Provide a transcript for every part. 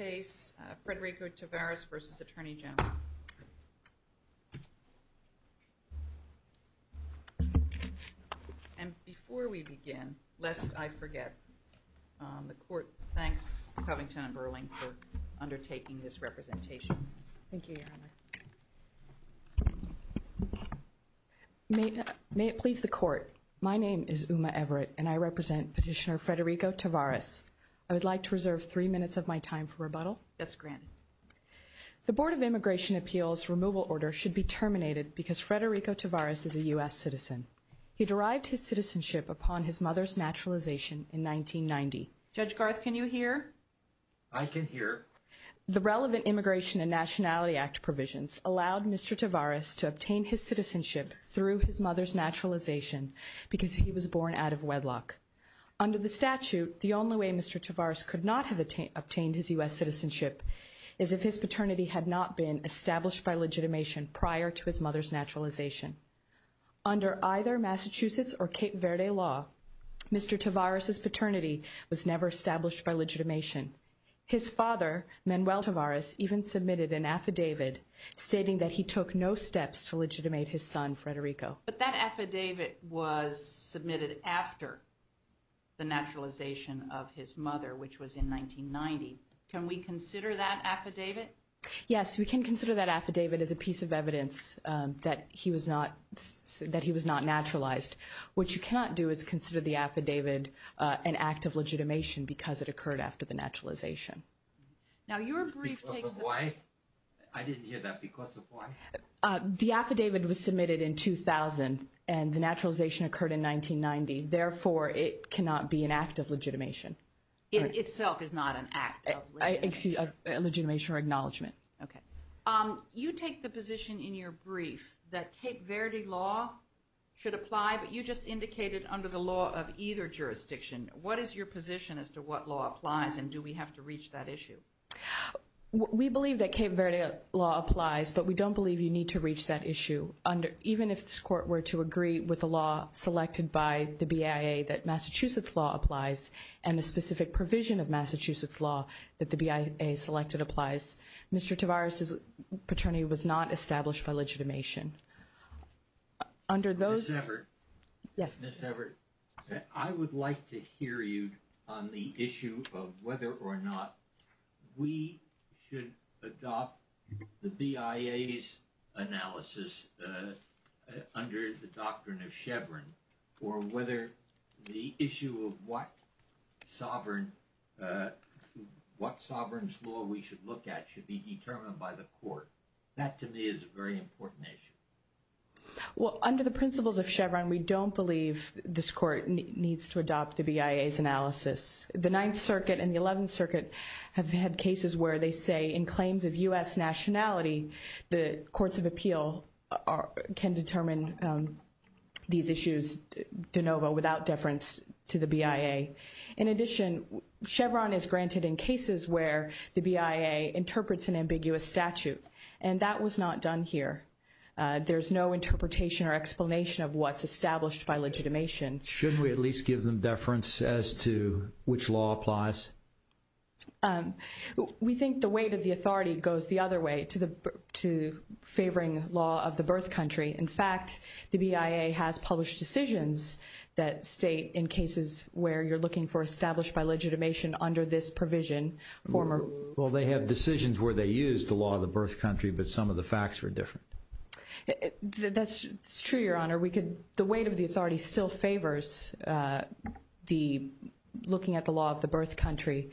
And before we begin, lest I forget, the court thanks Covington and Burling for undertaking this representation. Thank you, Your Honor. May it please the Court, my name is Uma Everett, and I represent Petitioner Federico Tavares I would like to reserve three minutes of my time for rebuttal. Yes, granted. The Board of Immigration Appeals removal order should be terminated because Federico Tavares is a U.S. citizen. He derived his citizenship upon his mother's naturalization in 1990. Judge Garth, can you hear? I can hear. The relevant Immigration and Nationality Act provisions allowed Mr. Tavares to obtain his citizenship through his mother's naturalization because he was born out of wedlock. Under the statute, the only way Mr. Tavares could not have obtained his U.S. citizenship is if his paternity had not been established by legitimation prior to his mother's naturalization. Under either Massachusetts or Cape Verde law, Mr. Tavares' paternity was never established by legitimation. His father, Manuel Tavares, even submitted an affidavit stating that he took no steps to legitimate his son, Federico. But that affidavit was submitted after the naturalization of his mother, which was in 1990. Can we consider that affidavit? Yes, we can consider that affidavit as a piece of evidence that he was not naturalized. What you cannot do is consider the affidavit an act of legitimation because it occurred after the naturalization. Now, your brief takes the- Because of what? I didn't hear that. Because of what? The affidavit was submitted in 2000, and the naturalization occurred in 1990. Therefore, it cannot be an act of legitimation. It itself is not an act of legitimation or acknowledgment. You take the position in your brief that Cape Verde law should apply, but you just indicated under the law of either jurisdiction. What is your position as to what law applies, and do we have to reach that issue? We believe that Cape Verde law applies, but we don't believe you need to reach that issue. Even if this court were to agree with the law selected by the BIA that Massachusetts law applies, and the specific provision of Massachusetts law that the BIA selected applies, Mr. Tavares' paternity was not established by legitimation. Ms. Everett. Yes. We should adopt the BIA's analysis under the doctrine of Chevron, or whether the issue of what sovereign's law we should look at should be determined by the court. That, to me, is a very important issue. Well, under the principles of Chevron, we don't believe this court needs to adopt the BIA's analysis. The Ninth Circuit and the Eleventh Circuit have had cases where they say, in claims of U.S. nationality, the courts of appeal can determine these issues de novo, without deference to the BIA. In addition, Chevron is granted in cases where the BIA interprets an ambiguous statute, and that was not done here. There's no interpretation or explanation of what's established by legitimation. Shouldn't we at least give them deference as to which law applies? We think the weight of the authority goes the other way, to favoring the law of the birth country. In fact, the BIA has published decisions that state, in cases where you're looking for established by legitimation under this provision, former... Well, they have decisions where they use the law of the birth country, but some of the facts are different. That's true, Your Honor. The weight of the authority still favors looking at the law of the birth country.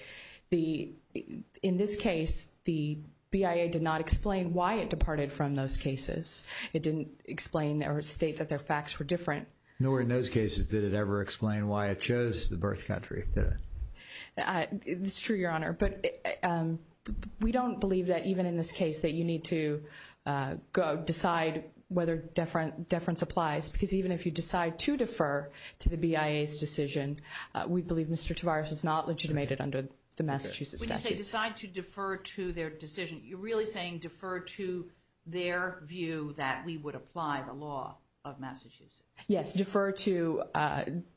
In this case, the BIA did not explain why it departed from those cases. It didn't explain or state that their facts were different. Nor in those cases did it ever explain why it chose the birth country. It's true, Your Honor, but we don't believe that even in this case that you need to decide whether deference applies. Because even if you decide to defer to the BIA's decision, we believe Mr. Tavares is not legitimated under the Massachusetts statute. When you say decide to defer to their decision, you're really saying defer to their view that we would apply the law of Massachusetts? Yes, defer to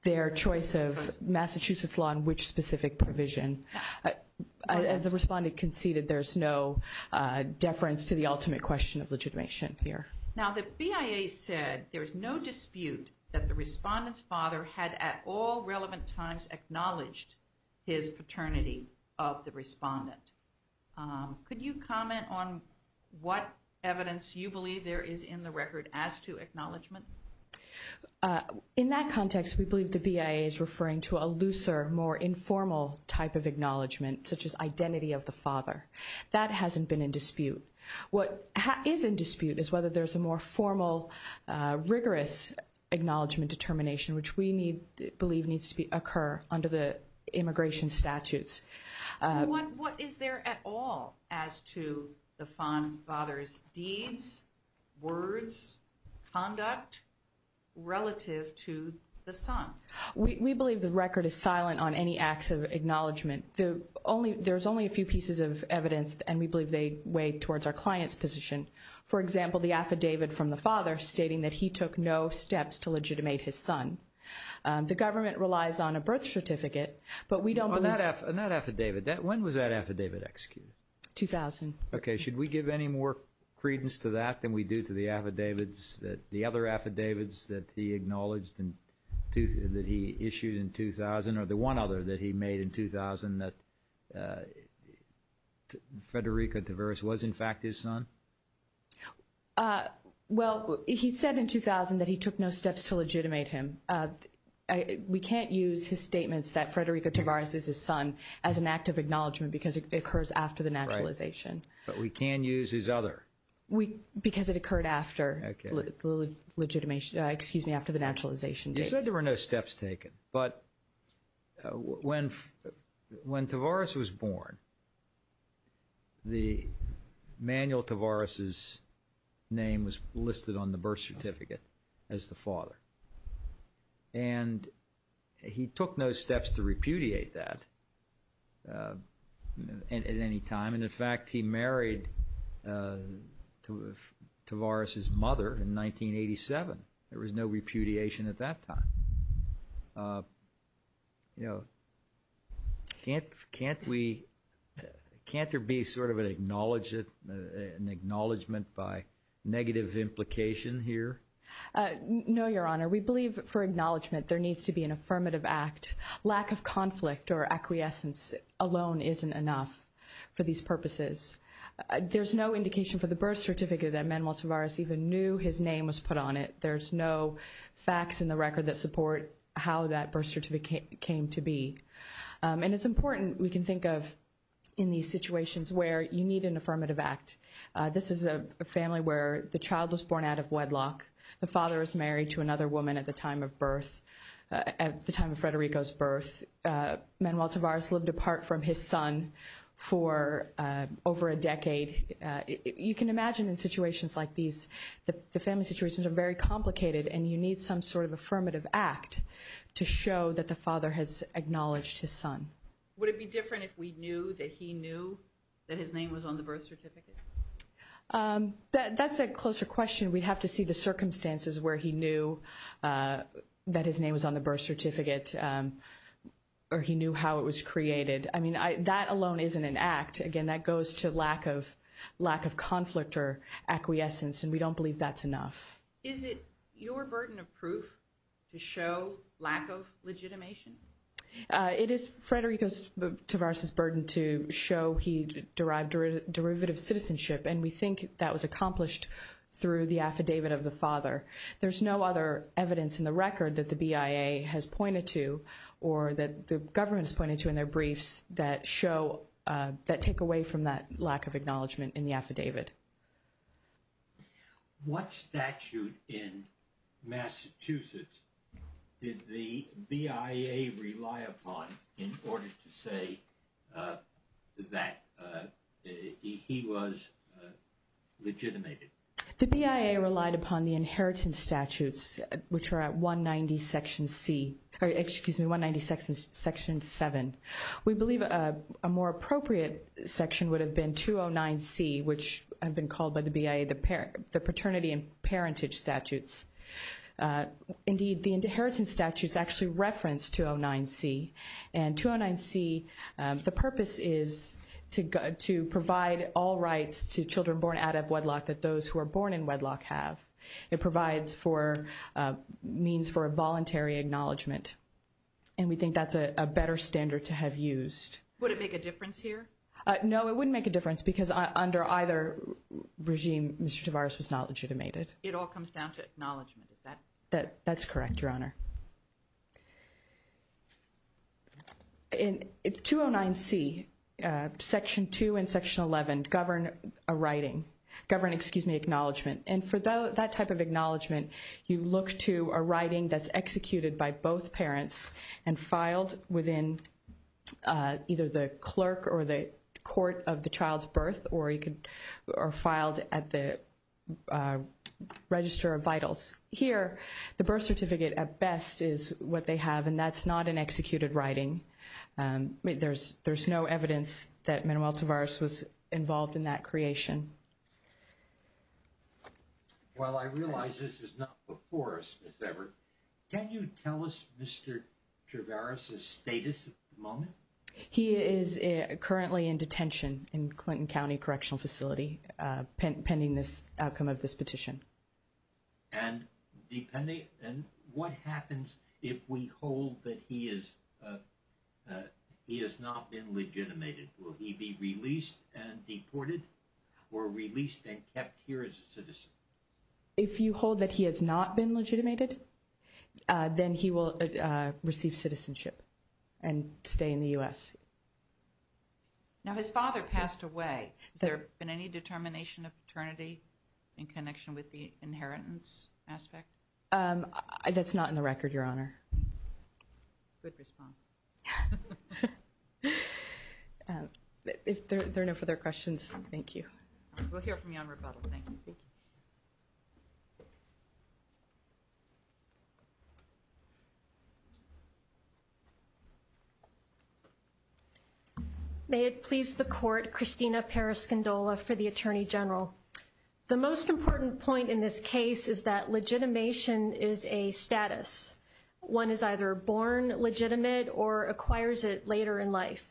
their choice of Massachusetts law and which specific provision. As the respondent conceded, there's no deference to the ultimate question of legitimation here. Now, the BIA said there's no dispute that the respondent's father had at all relevant times acknowledged his paternity of the respondent. Could you comment on what evidence you believe there is in the record as to acknowledgement? In that context, we believe the BIA is referring to a looser, more informal type of acknowledgement such as identity of the father. That hasn't been in dispute. What is in dispute is whether there's a more formal, rigorous acknowledgement determination which we believe needs to occur under the immigration statutes. What is there at all as to the father's deeds, words, conduct relative to the son? We believe the record is silent on any acts of acknowledgement. There's only a few pieces of evidence, and we believe they weigh towards our client's position. For example, the affidavit from the father stating that he took no steps to legitimate his son. The government relies on a birth certificate, but we don't believe that. On that affidavit, when was that affidavit executed? 2000. Okay. Should we give any more credence to that than we do to the affidavits, the other affidavits that he acknowledged that he issued in 2000, or the one other that he made in 2000, that Frederico Tavares was in fact his son? Well, he said in 2000 that he took no steps to legitimate him. We can't use his statements that Frederico Tavares is his son as an act of acknowledgement because it occurs after the naturalization. But we can use his other. Because it occurred after the legitimation. Excuse me, after the naturalization date. You said there were no steps taken, but when Tavares was born, the manual Tavares' name was listed on the birth certificate as the father. And he took no steps to repudiate that at any time. In fact, he married Tavares' mother in 1987. There was no repudiation at that time. Can't there be sort of an acknowledgement by negative implication here? No, Your Honor. We believe for acknowledgement there needs to be an affirmative act. Lack of conflict or acquiescence alone isn't enough for these purposes. There's no indication for the birth certificate that Manuel Tavares even knew his name was put on it. There's no facts in the record that support how that birth certificate came to be. And it's important we can think of in these situations where you need an affirmative act. This is a family where the child was born out of wedlock. The father was married to another woman at the time of birth, at the time of Federico's birth. Manuel Tavares lived apart from his son for over a decade. You can imagine in situations like these, the family situations are very complicated, and you need some sort of affirmative act to show that the father has acknowledged his son. Would it be different if we knew that he knew that his name was on the birth certificate? That's a closer question. We'd have to see the circumstances where he knew that his name was on the birth certificate, or he knew how it was created. I mean, that alone isn't an act. Again, that goes to lack of conflict or acquiescence, and we don't believe that's enough. Is it your burden of proof to show lack of legitimation? It is Federico Tavares' burden to show he derived derivative citizenship, and we think that was accomplished through the affidavit of the father. There's no other evidence in the record that the BIA has pointed to, or that the government has pointed to in their briefs that show, that take away from that lack of acknowledgement in the affidavit. What statute in Massachusetts did the BIA rely upon in order to say that he was legitimated? The BIA relied upon the inheritance statutes, which are at 190 section C, or excuse me, 190 section 7. We believe a more appropriate section would have been 209 C, which have been called by the BIA the paternity and parentage statutes. Indeed, the inheritance statutes actually reference 209 C, and 209 C, the purpose is to provide all rights to children born out of wedlock that those who are born in wedlock have. It provides for means for a voluntary acknowledgement, and we think that's a better standard to have used. Would it make a difference here? No, it wouldn't make a difference because under either regime, Mr. Tavares was not legitimated. It all comes down to acknowledgement, is that? That's correct, Your Honor. In 209 C, section 2 and section 11 govern a writing, govern, excuse me, acknowledgement, and for that type of acknowledgement, you look to a writing that's executed by both parents and filed within either the clerk or the court of the child's birth or you can, or filed at the register of vitals. Here, the birth certificate at best is what they have, and that's not an executed writing. There's no evidence that Manuel Tavares was involved in that creation. Well, I realize this is not before us, Ms. Everett. Can you tell us Mr. Tavares' status at the moment? He is currently in detention in Clinton County Correctional Facility pending this outcome of this petition. And what happens if we hold that he has not been legitimated? Will he be released and deported or released and kept here as a citizen? If you hold that he has not been legitimated, then he will receive citizenship and stay in the U.S. Now, his father passed away. Has there been any determination of paternity in connection with the inheritance aspect? That's not in the record, Your Honor. Good response. If there are no further questions, thank you. We'll hear from you on rebuttal. Thank you. May it please the Court, Christina Periscindola for the Attorney General. The most important point in this case is that legitimation is a status. One is either born legitimate or acquires it later in life.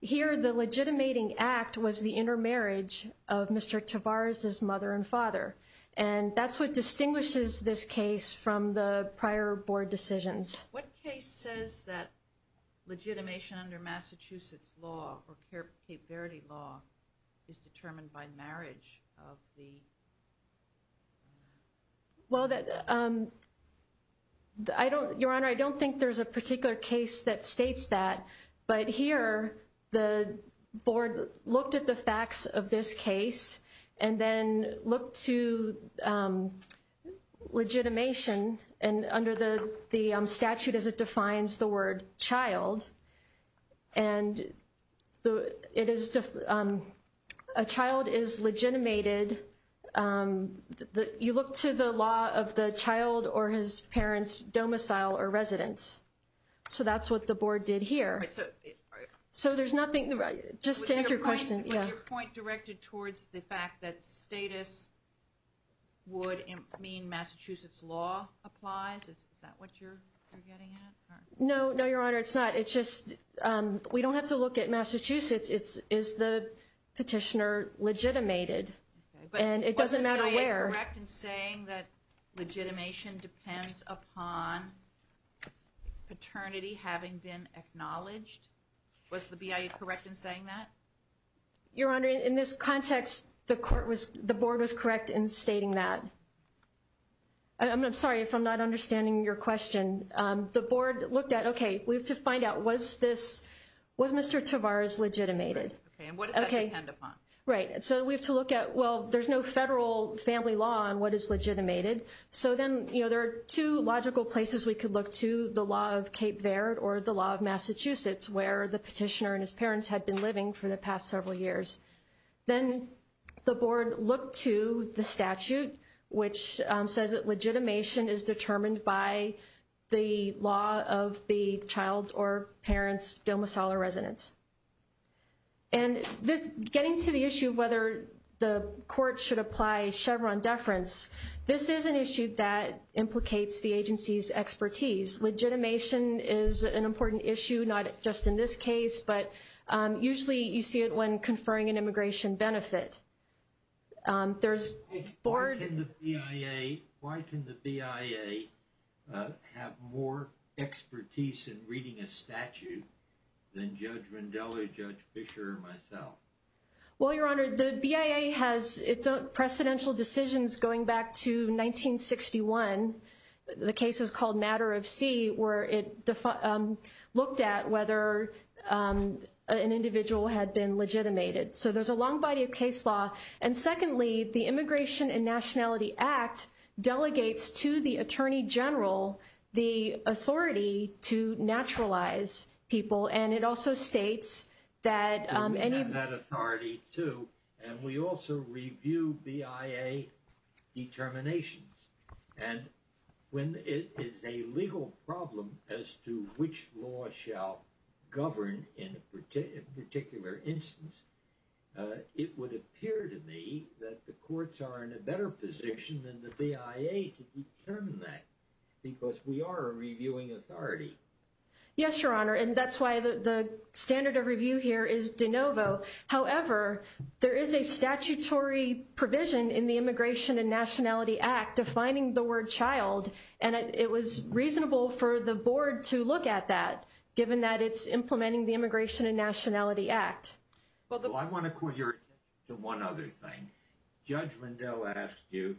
Here, the legitimating act was the intermarriage of Mr. Tavares' mother, and father. And that's what distinguishes this case from the prior board decisions. What case says that legitimation under Massachusetts law or Cape Verde law is determined by marriage of the... Well, Your Honor, I don't think there's a particular case that states that. But here, the board looked at the facts of this case and then looked to legitimation. And under the statute, as it defines the word, child. And a child is legitimated... You look to the law of the child or his parents' domicile or residence. So that's what the board did here. So there's nothing... Just to answer your question. Was your point directed towards the fact that status would mean Massachusetts law applies? Is that what you're getting at? No, no, Your Honor, it's not. It's just we don't have to look at Massachusetts. It's, is the petitioner legitimated? And it doesn't matter where. Was the BIA correct in saying that legitimation depends upon paternity having been acknowledged? Was the BIA correct in saying that? Your Honor, in this context, the court was... The board was correct in stating that. I'm sorry if I'm not understanding your question. The board looked at, okay, we have to find out, was this... Was Mr. Tavares legitimated? Okay, and what does that depend upon? Right. So we have to look at, well, there's no federal family law on what is legitimated. So then, you know, there are two logical places we could look to. The law of Cape Verde or the law of Massachusetts, where the petitioner and his parents had been living for the past several years. Then the board looked to the statute, which says that legitimation is determined by the law of the child's or parent's domicile or residence. And this, getting to the issue of whether the court should apply Chevron deference, this is an issue that implicates the agency's expertise. Legitimation is an important issue, not just in this case, but usually you see it when conferring an immigration benefit. Why can the BIA have more expertise in reading a statute than Judge Rondella, Judge Fischer, or myself? Well, Your Honor, the BIA has its own precedential decisions going back to 1961. The case is called Matter of C, where it looked at whether an individual had been legitimated. So there's a long body of case law. And secondly, the Immigration and Nationality Act delegates to the Attorney General the authority to naturalize people. And it also states that- when it is a legal problem as to which law shall govern in a particular instance, it would appear to me that the courts are in a better position than the BIA to determine that, because we are a reviewing authority. Yes, Your Honor. And that's why the standard of review here is de novo. However, there is a statutory provision in the Immigration and Nationality Act defining the word child. And it was reasonable for the board to look at that, given that it's implementing the Immigration and Nationality Act. Well, I want to call your attention to one other thing. Judge Rondella asked you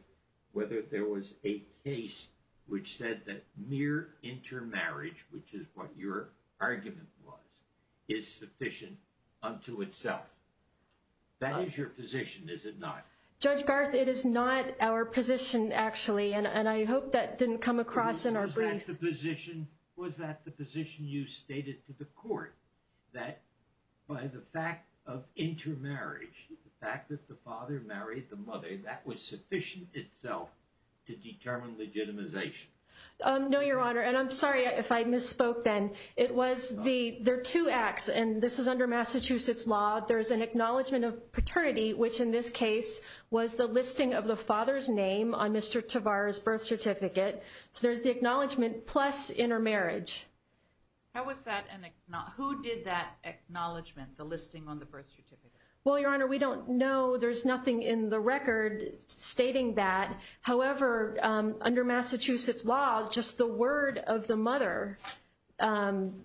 whether there was a case which said that mere intermarriage, which is what your argument was, is sufficient unto itself. That is your position, is it not? Judge Garth, it is not our position, actually. And I hope that didn't come across in our brief. Was that the position you stated to the court, that by the fact of intermarriage, the fact that the father married the mother, that was sufficient itself to determine legitimization? No, Your Honor. And I'm sorry if I misspoke then. It was the- there are two acts. And this is under Massachusetts law. There is an acknowledgment of paternity, which in this case was the listing of the father's name on Mr. Tavar's birth certificate. So there's the acknowledgment plus intermarriage. How was that an- who did that acknowledgment, the listing on the birth certificate? Well, Your Honor, we don't know. There's nothing in the record stating that. However, under Massachusetts law, just the word of the mother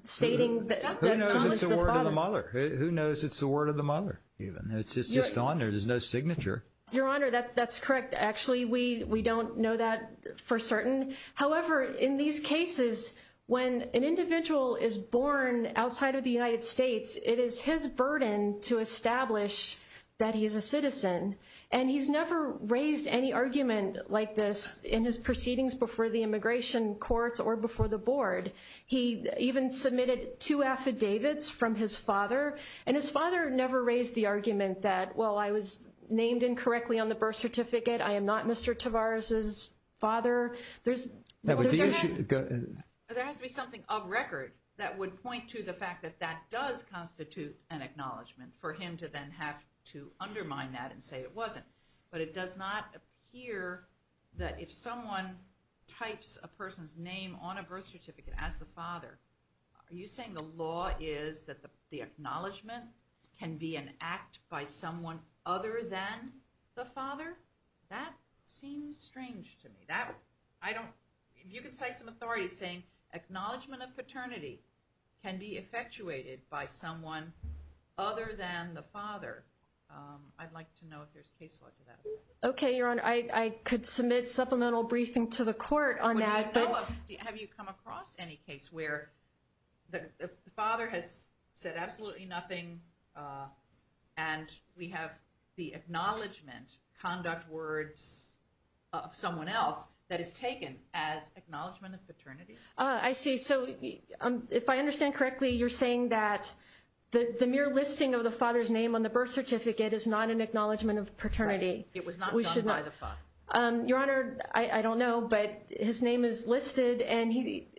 stating that someone's the father- Who knows it's the word of the mother? Who knows it's the word of the mother even? It's just on there. There's no signature. Your Honor, that's correct. Actually, we don't know that for certain. However, in these cases, when an individual is born outside of the United States, it is his burden to establish that he is a citizen. And he's never raised any argument like this in his proceedings before the immigration courts or before the board. He even submitted two affidavits from his father. And his father never raised the argument that, well, I was named incorrectly on the birth certificate. I am not Mr. Tavar's father. There has to be something of record that would point to the fact that that does constitute an acknowledgment for him to then have to undermine that and say it wasn't. But it does not appear that if someone types a person's name on a birth certificate as the father, are you saying the law is that the acknowledgment can be an act by someone other than the father? That seems strange to me. That, I don't, if you could cite some authority saying acknowledgment of paternity can be effectuated by someone other than the father. I'd like to know if there's case law to that. Okay, Your Honor. I could submit supplemental briefing to the court on that. Have you come across any case where the father has said absolutely nothing and we have the acknowledgment conduct words of someone else that is taken as acknowledgment of paternity? I see. So if I understand correctly, you're saying that the mere listing of the father's name on the birth certificate is not an acknowledgment of paternity. It was not done by the father. Your Honor, I don't know. But his name is listed. And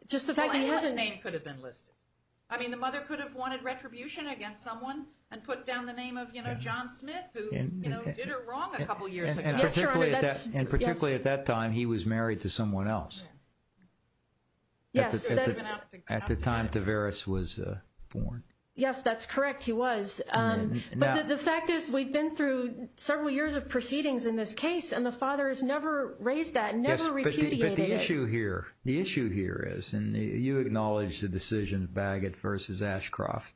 just the fact that he hasn't... His name could have been listed. I mean, the mother could have wanted retribution against someone and put down the name of, you know, John Smith, who, you know, did her wrong a couple of years ago. And particularly at that time, he was married to someone else. Yes. At the time Tavares was born. Yes, that's correct. He was. But the fact is, we've been through several years of proceedings in this case. And the father has never raised that, never repudiated it. But the issue here, the issue here is, and you acknowledge the decision of Bagot versus Ashcroft.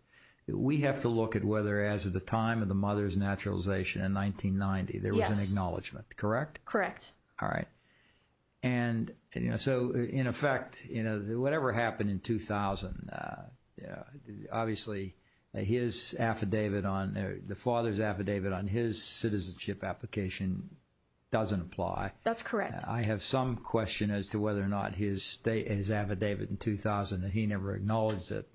We have to look at whether as of the time of the mother's naturalization in 1990, there was an acknowledgment, correct? Correct. All right. And, you know, so in effect, you know, whatever happened in 2000, you know, obviously his affidavit on, the father's affidavit on his citizenship application doesn't apply. That's correct. I have some question as to whether or not his affidavit in 2000, that he never acknowledged that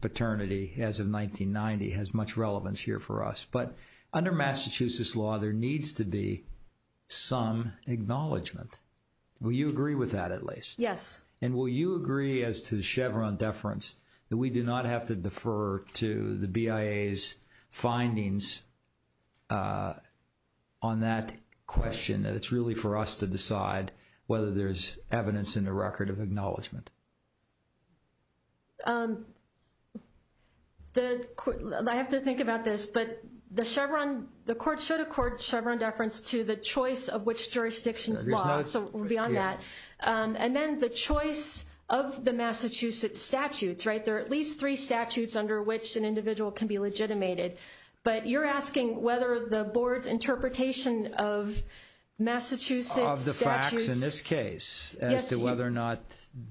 paternity as of 1990 has much relevance here for us. But under Massachusetts law, there needs to be some acknowledgment. Will you agree with that, at least? Yes. And will you agree as to the Chevron deference, that we do not have to defer to the BIA's findings on that question, that it's really for us to decide whether there's evidence in the record of acknowledgment? I have to think about this, but the Chevron, the court should accord Chevron deference to the choice of which jurisdiction's law. So beyond that. And then the choice of the Massachusetts statutes, right? There are at least three statutes under which an individual can be legitimated. But you're asking whether the board's interpretation of Massachusetts statutes. Of the facts in this case, as to whether or not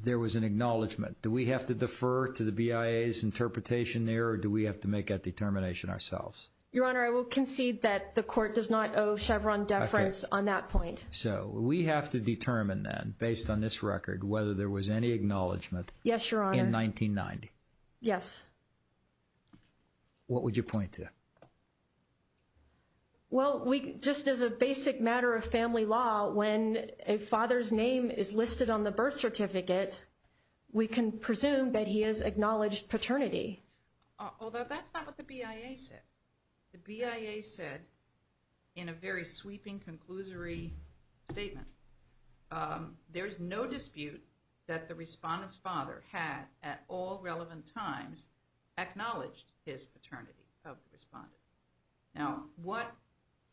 there was an acknowledgment. Do we have to defer to the BIA's interpretation there, or do we have to make that determination ourselves? Your Honor, I will concede that the court does not owe Chevron deference on that point. So we have to determine then, based on this record, whether there was any acknowledgment. Yes, Your Honor. In 1990. Yes. What would you point to? Well, we just as a basic matter of family law, when a father's name is listed on the birth certificate, we can presume that he has acknowledged paternity. Although that's not what the BIA said. The BIA said, in a very sweeping, conclusory statement, there's no dispute that the respondent's father had, at all relevant times, acknowledged his paternity of the respondent. Now, what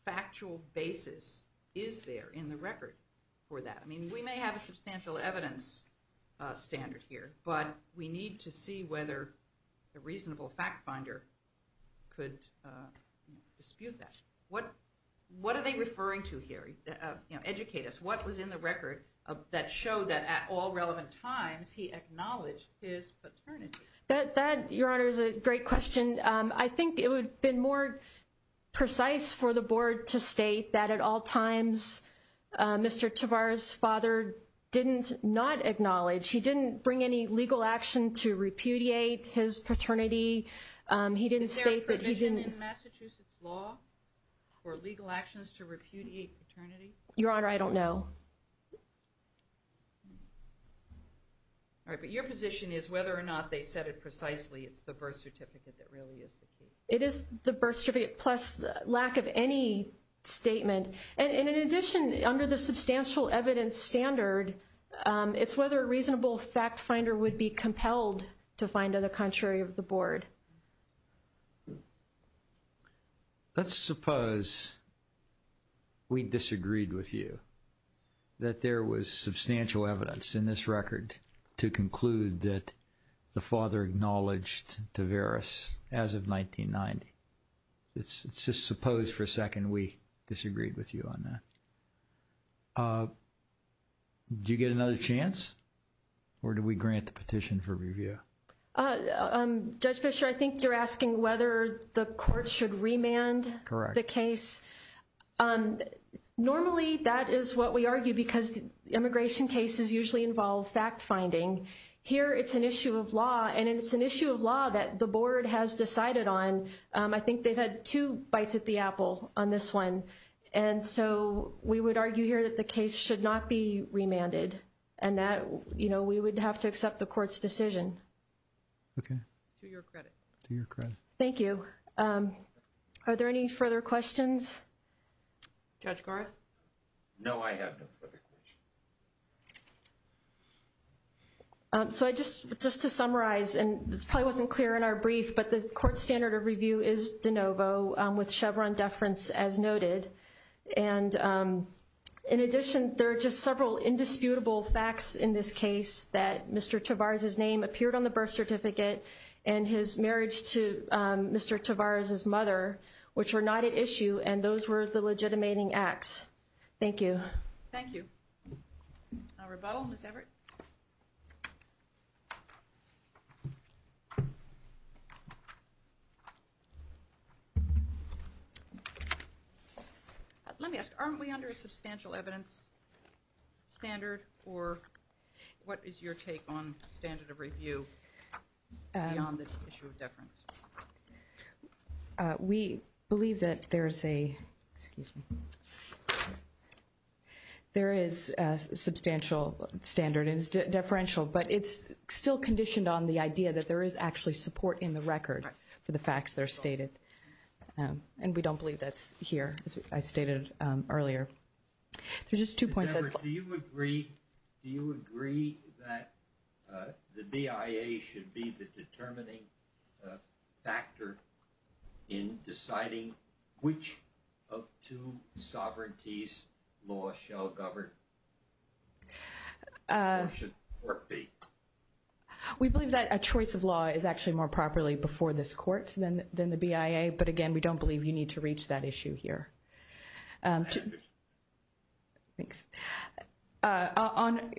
factual basis is there in the record for that? I mean, we may have a substantial evidence standard here, but we need to see whether a reasonable fact finder could dispute that. What are they referring to here? Educate us. What was in the record that showed that, at all relevant times, he acknowledged his paternity? That, Your Honor, is a great question. I think it would have been more precise for the board to state that, at all times, Mr. Tavar's father did not acknowledge. He didn't bring any legal action to repudiate his paternity. He didn't state that he didn't- Is there a provision in Massachusetts law for legal actions to repudiate paternity? Your Honor, I don't know. All right. But your position is, whether or not they said it precisely, it's the birth certificate that really is the key. It is the birth certificate, plus the lack of any statement. And in addition, under the substantial evidence standard, it's whether a reasonable fact finder would be compelled to find the contrary of the board. Let's suppose we disagreed with you, that there was substantial evidence in this record to conclude that the father acknowledged Tavaris as of 1990. Let's just suppose for a second we disagreed with you on that. Do you get another chance, or do we grant the petition for review? Judge Fischer, I think you're asking whether the court should remand the case. Normally, that is what we argue, because immigration cases usually involve fact finding. Here, it's an issue of law, and it's an issue of law that the board has decided on. I think they've had two bites at the apple on this one. And so we would argue here that the case should not be remanded, and that we would have to accept the court's decision. Okay. To your credit. To your credit. Thank you. Are there any further questions? Judge Garth? No, I have no further questions. So just to summarize, and this probably wasn't clear in our brief, but the court standard of review is de novo, with Chevron deference as noted. And in addition, there are just several indisputable facts in this case, that Mr. Tavaris' name appeared on the birth certificate, and his marriage to Mr. Tavaris' mother, which were not at issue, and those were the legitimating acts. Thank you. Thank you. Our rebuttal, Ms. Everett. Let me ask, aren't we under a substantial evidence standard, or what is your take on standard of review beyond the issue of deference? We believe that there is a, excuse me, there is a substantial standard, and it's deferential, but it's still conditioned on the idea that there is actually support in the record for the facts that are stated. And we don't believe that's here, as I stated earlier. There's just two points. Ms. Everett, do you agree that the BIA should be the determining factor in deciding which of two sovereignties law shall govern, or should court be? We believe that a choice of law is actually more properly before this court than the BIA, but again, we don't believe you need to reach that issue here. Thanks. On,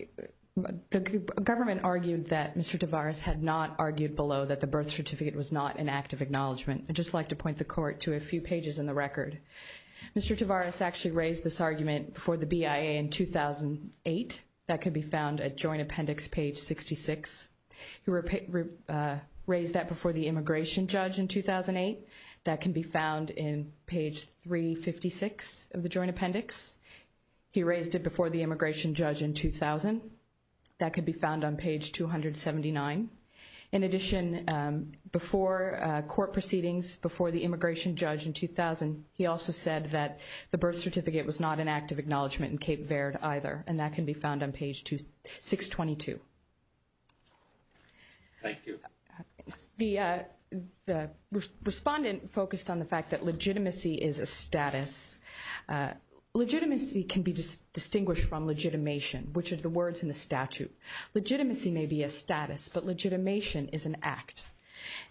the government argued that Mr. Tavaris had not argued below that the birth certificate was not an act of acknowledgement. I'd just like to point the court to a few pages in the record. Mr. Tavaris actually raised this argument before the BIA in 2008. That can be found at joint appendix page 66. He raised that before the immigration judge in 2008. That can be found in page 356 of the joint appendix. He raised it before the immigration judge in 2000. That could be found on page 279. In addition, before court proceedings, before the immigration judge in 2000, he also said that the birth certificate was not an act of acknowledgement in Cape Verde either, and that can be found on page 622. Thank you. The respondent focused on the fact that legitimacy is a status. Legitimacy can be distinguished from legitimation, which are the words in the statute. Legitimacy may be a status, but legitimation is an act.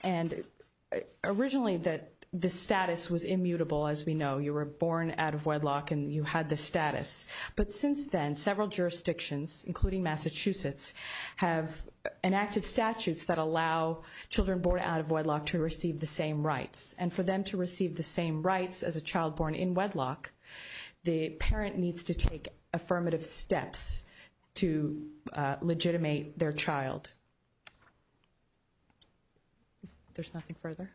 And originally, the status was immutable, as we know. You were born out of wedlock and you had the status. But since then, several jurisdictions, including Massachusetts, have enacted statutes that allow children born out of wedlock to receive the same rights. And for them to receive the same rights as a child born in wedlock, the parent needs to take affirmative steps to legitimate their child. There's nothing further?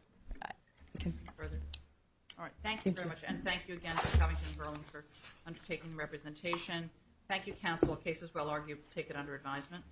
All right. Thank you very much. And thank you again for coming to Burlington for undertaking the representation. Thank you, counsel. The case is well argued. Take it under advisement.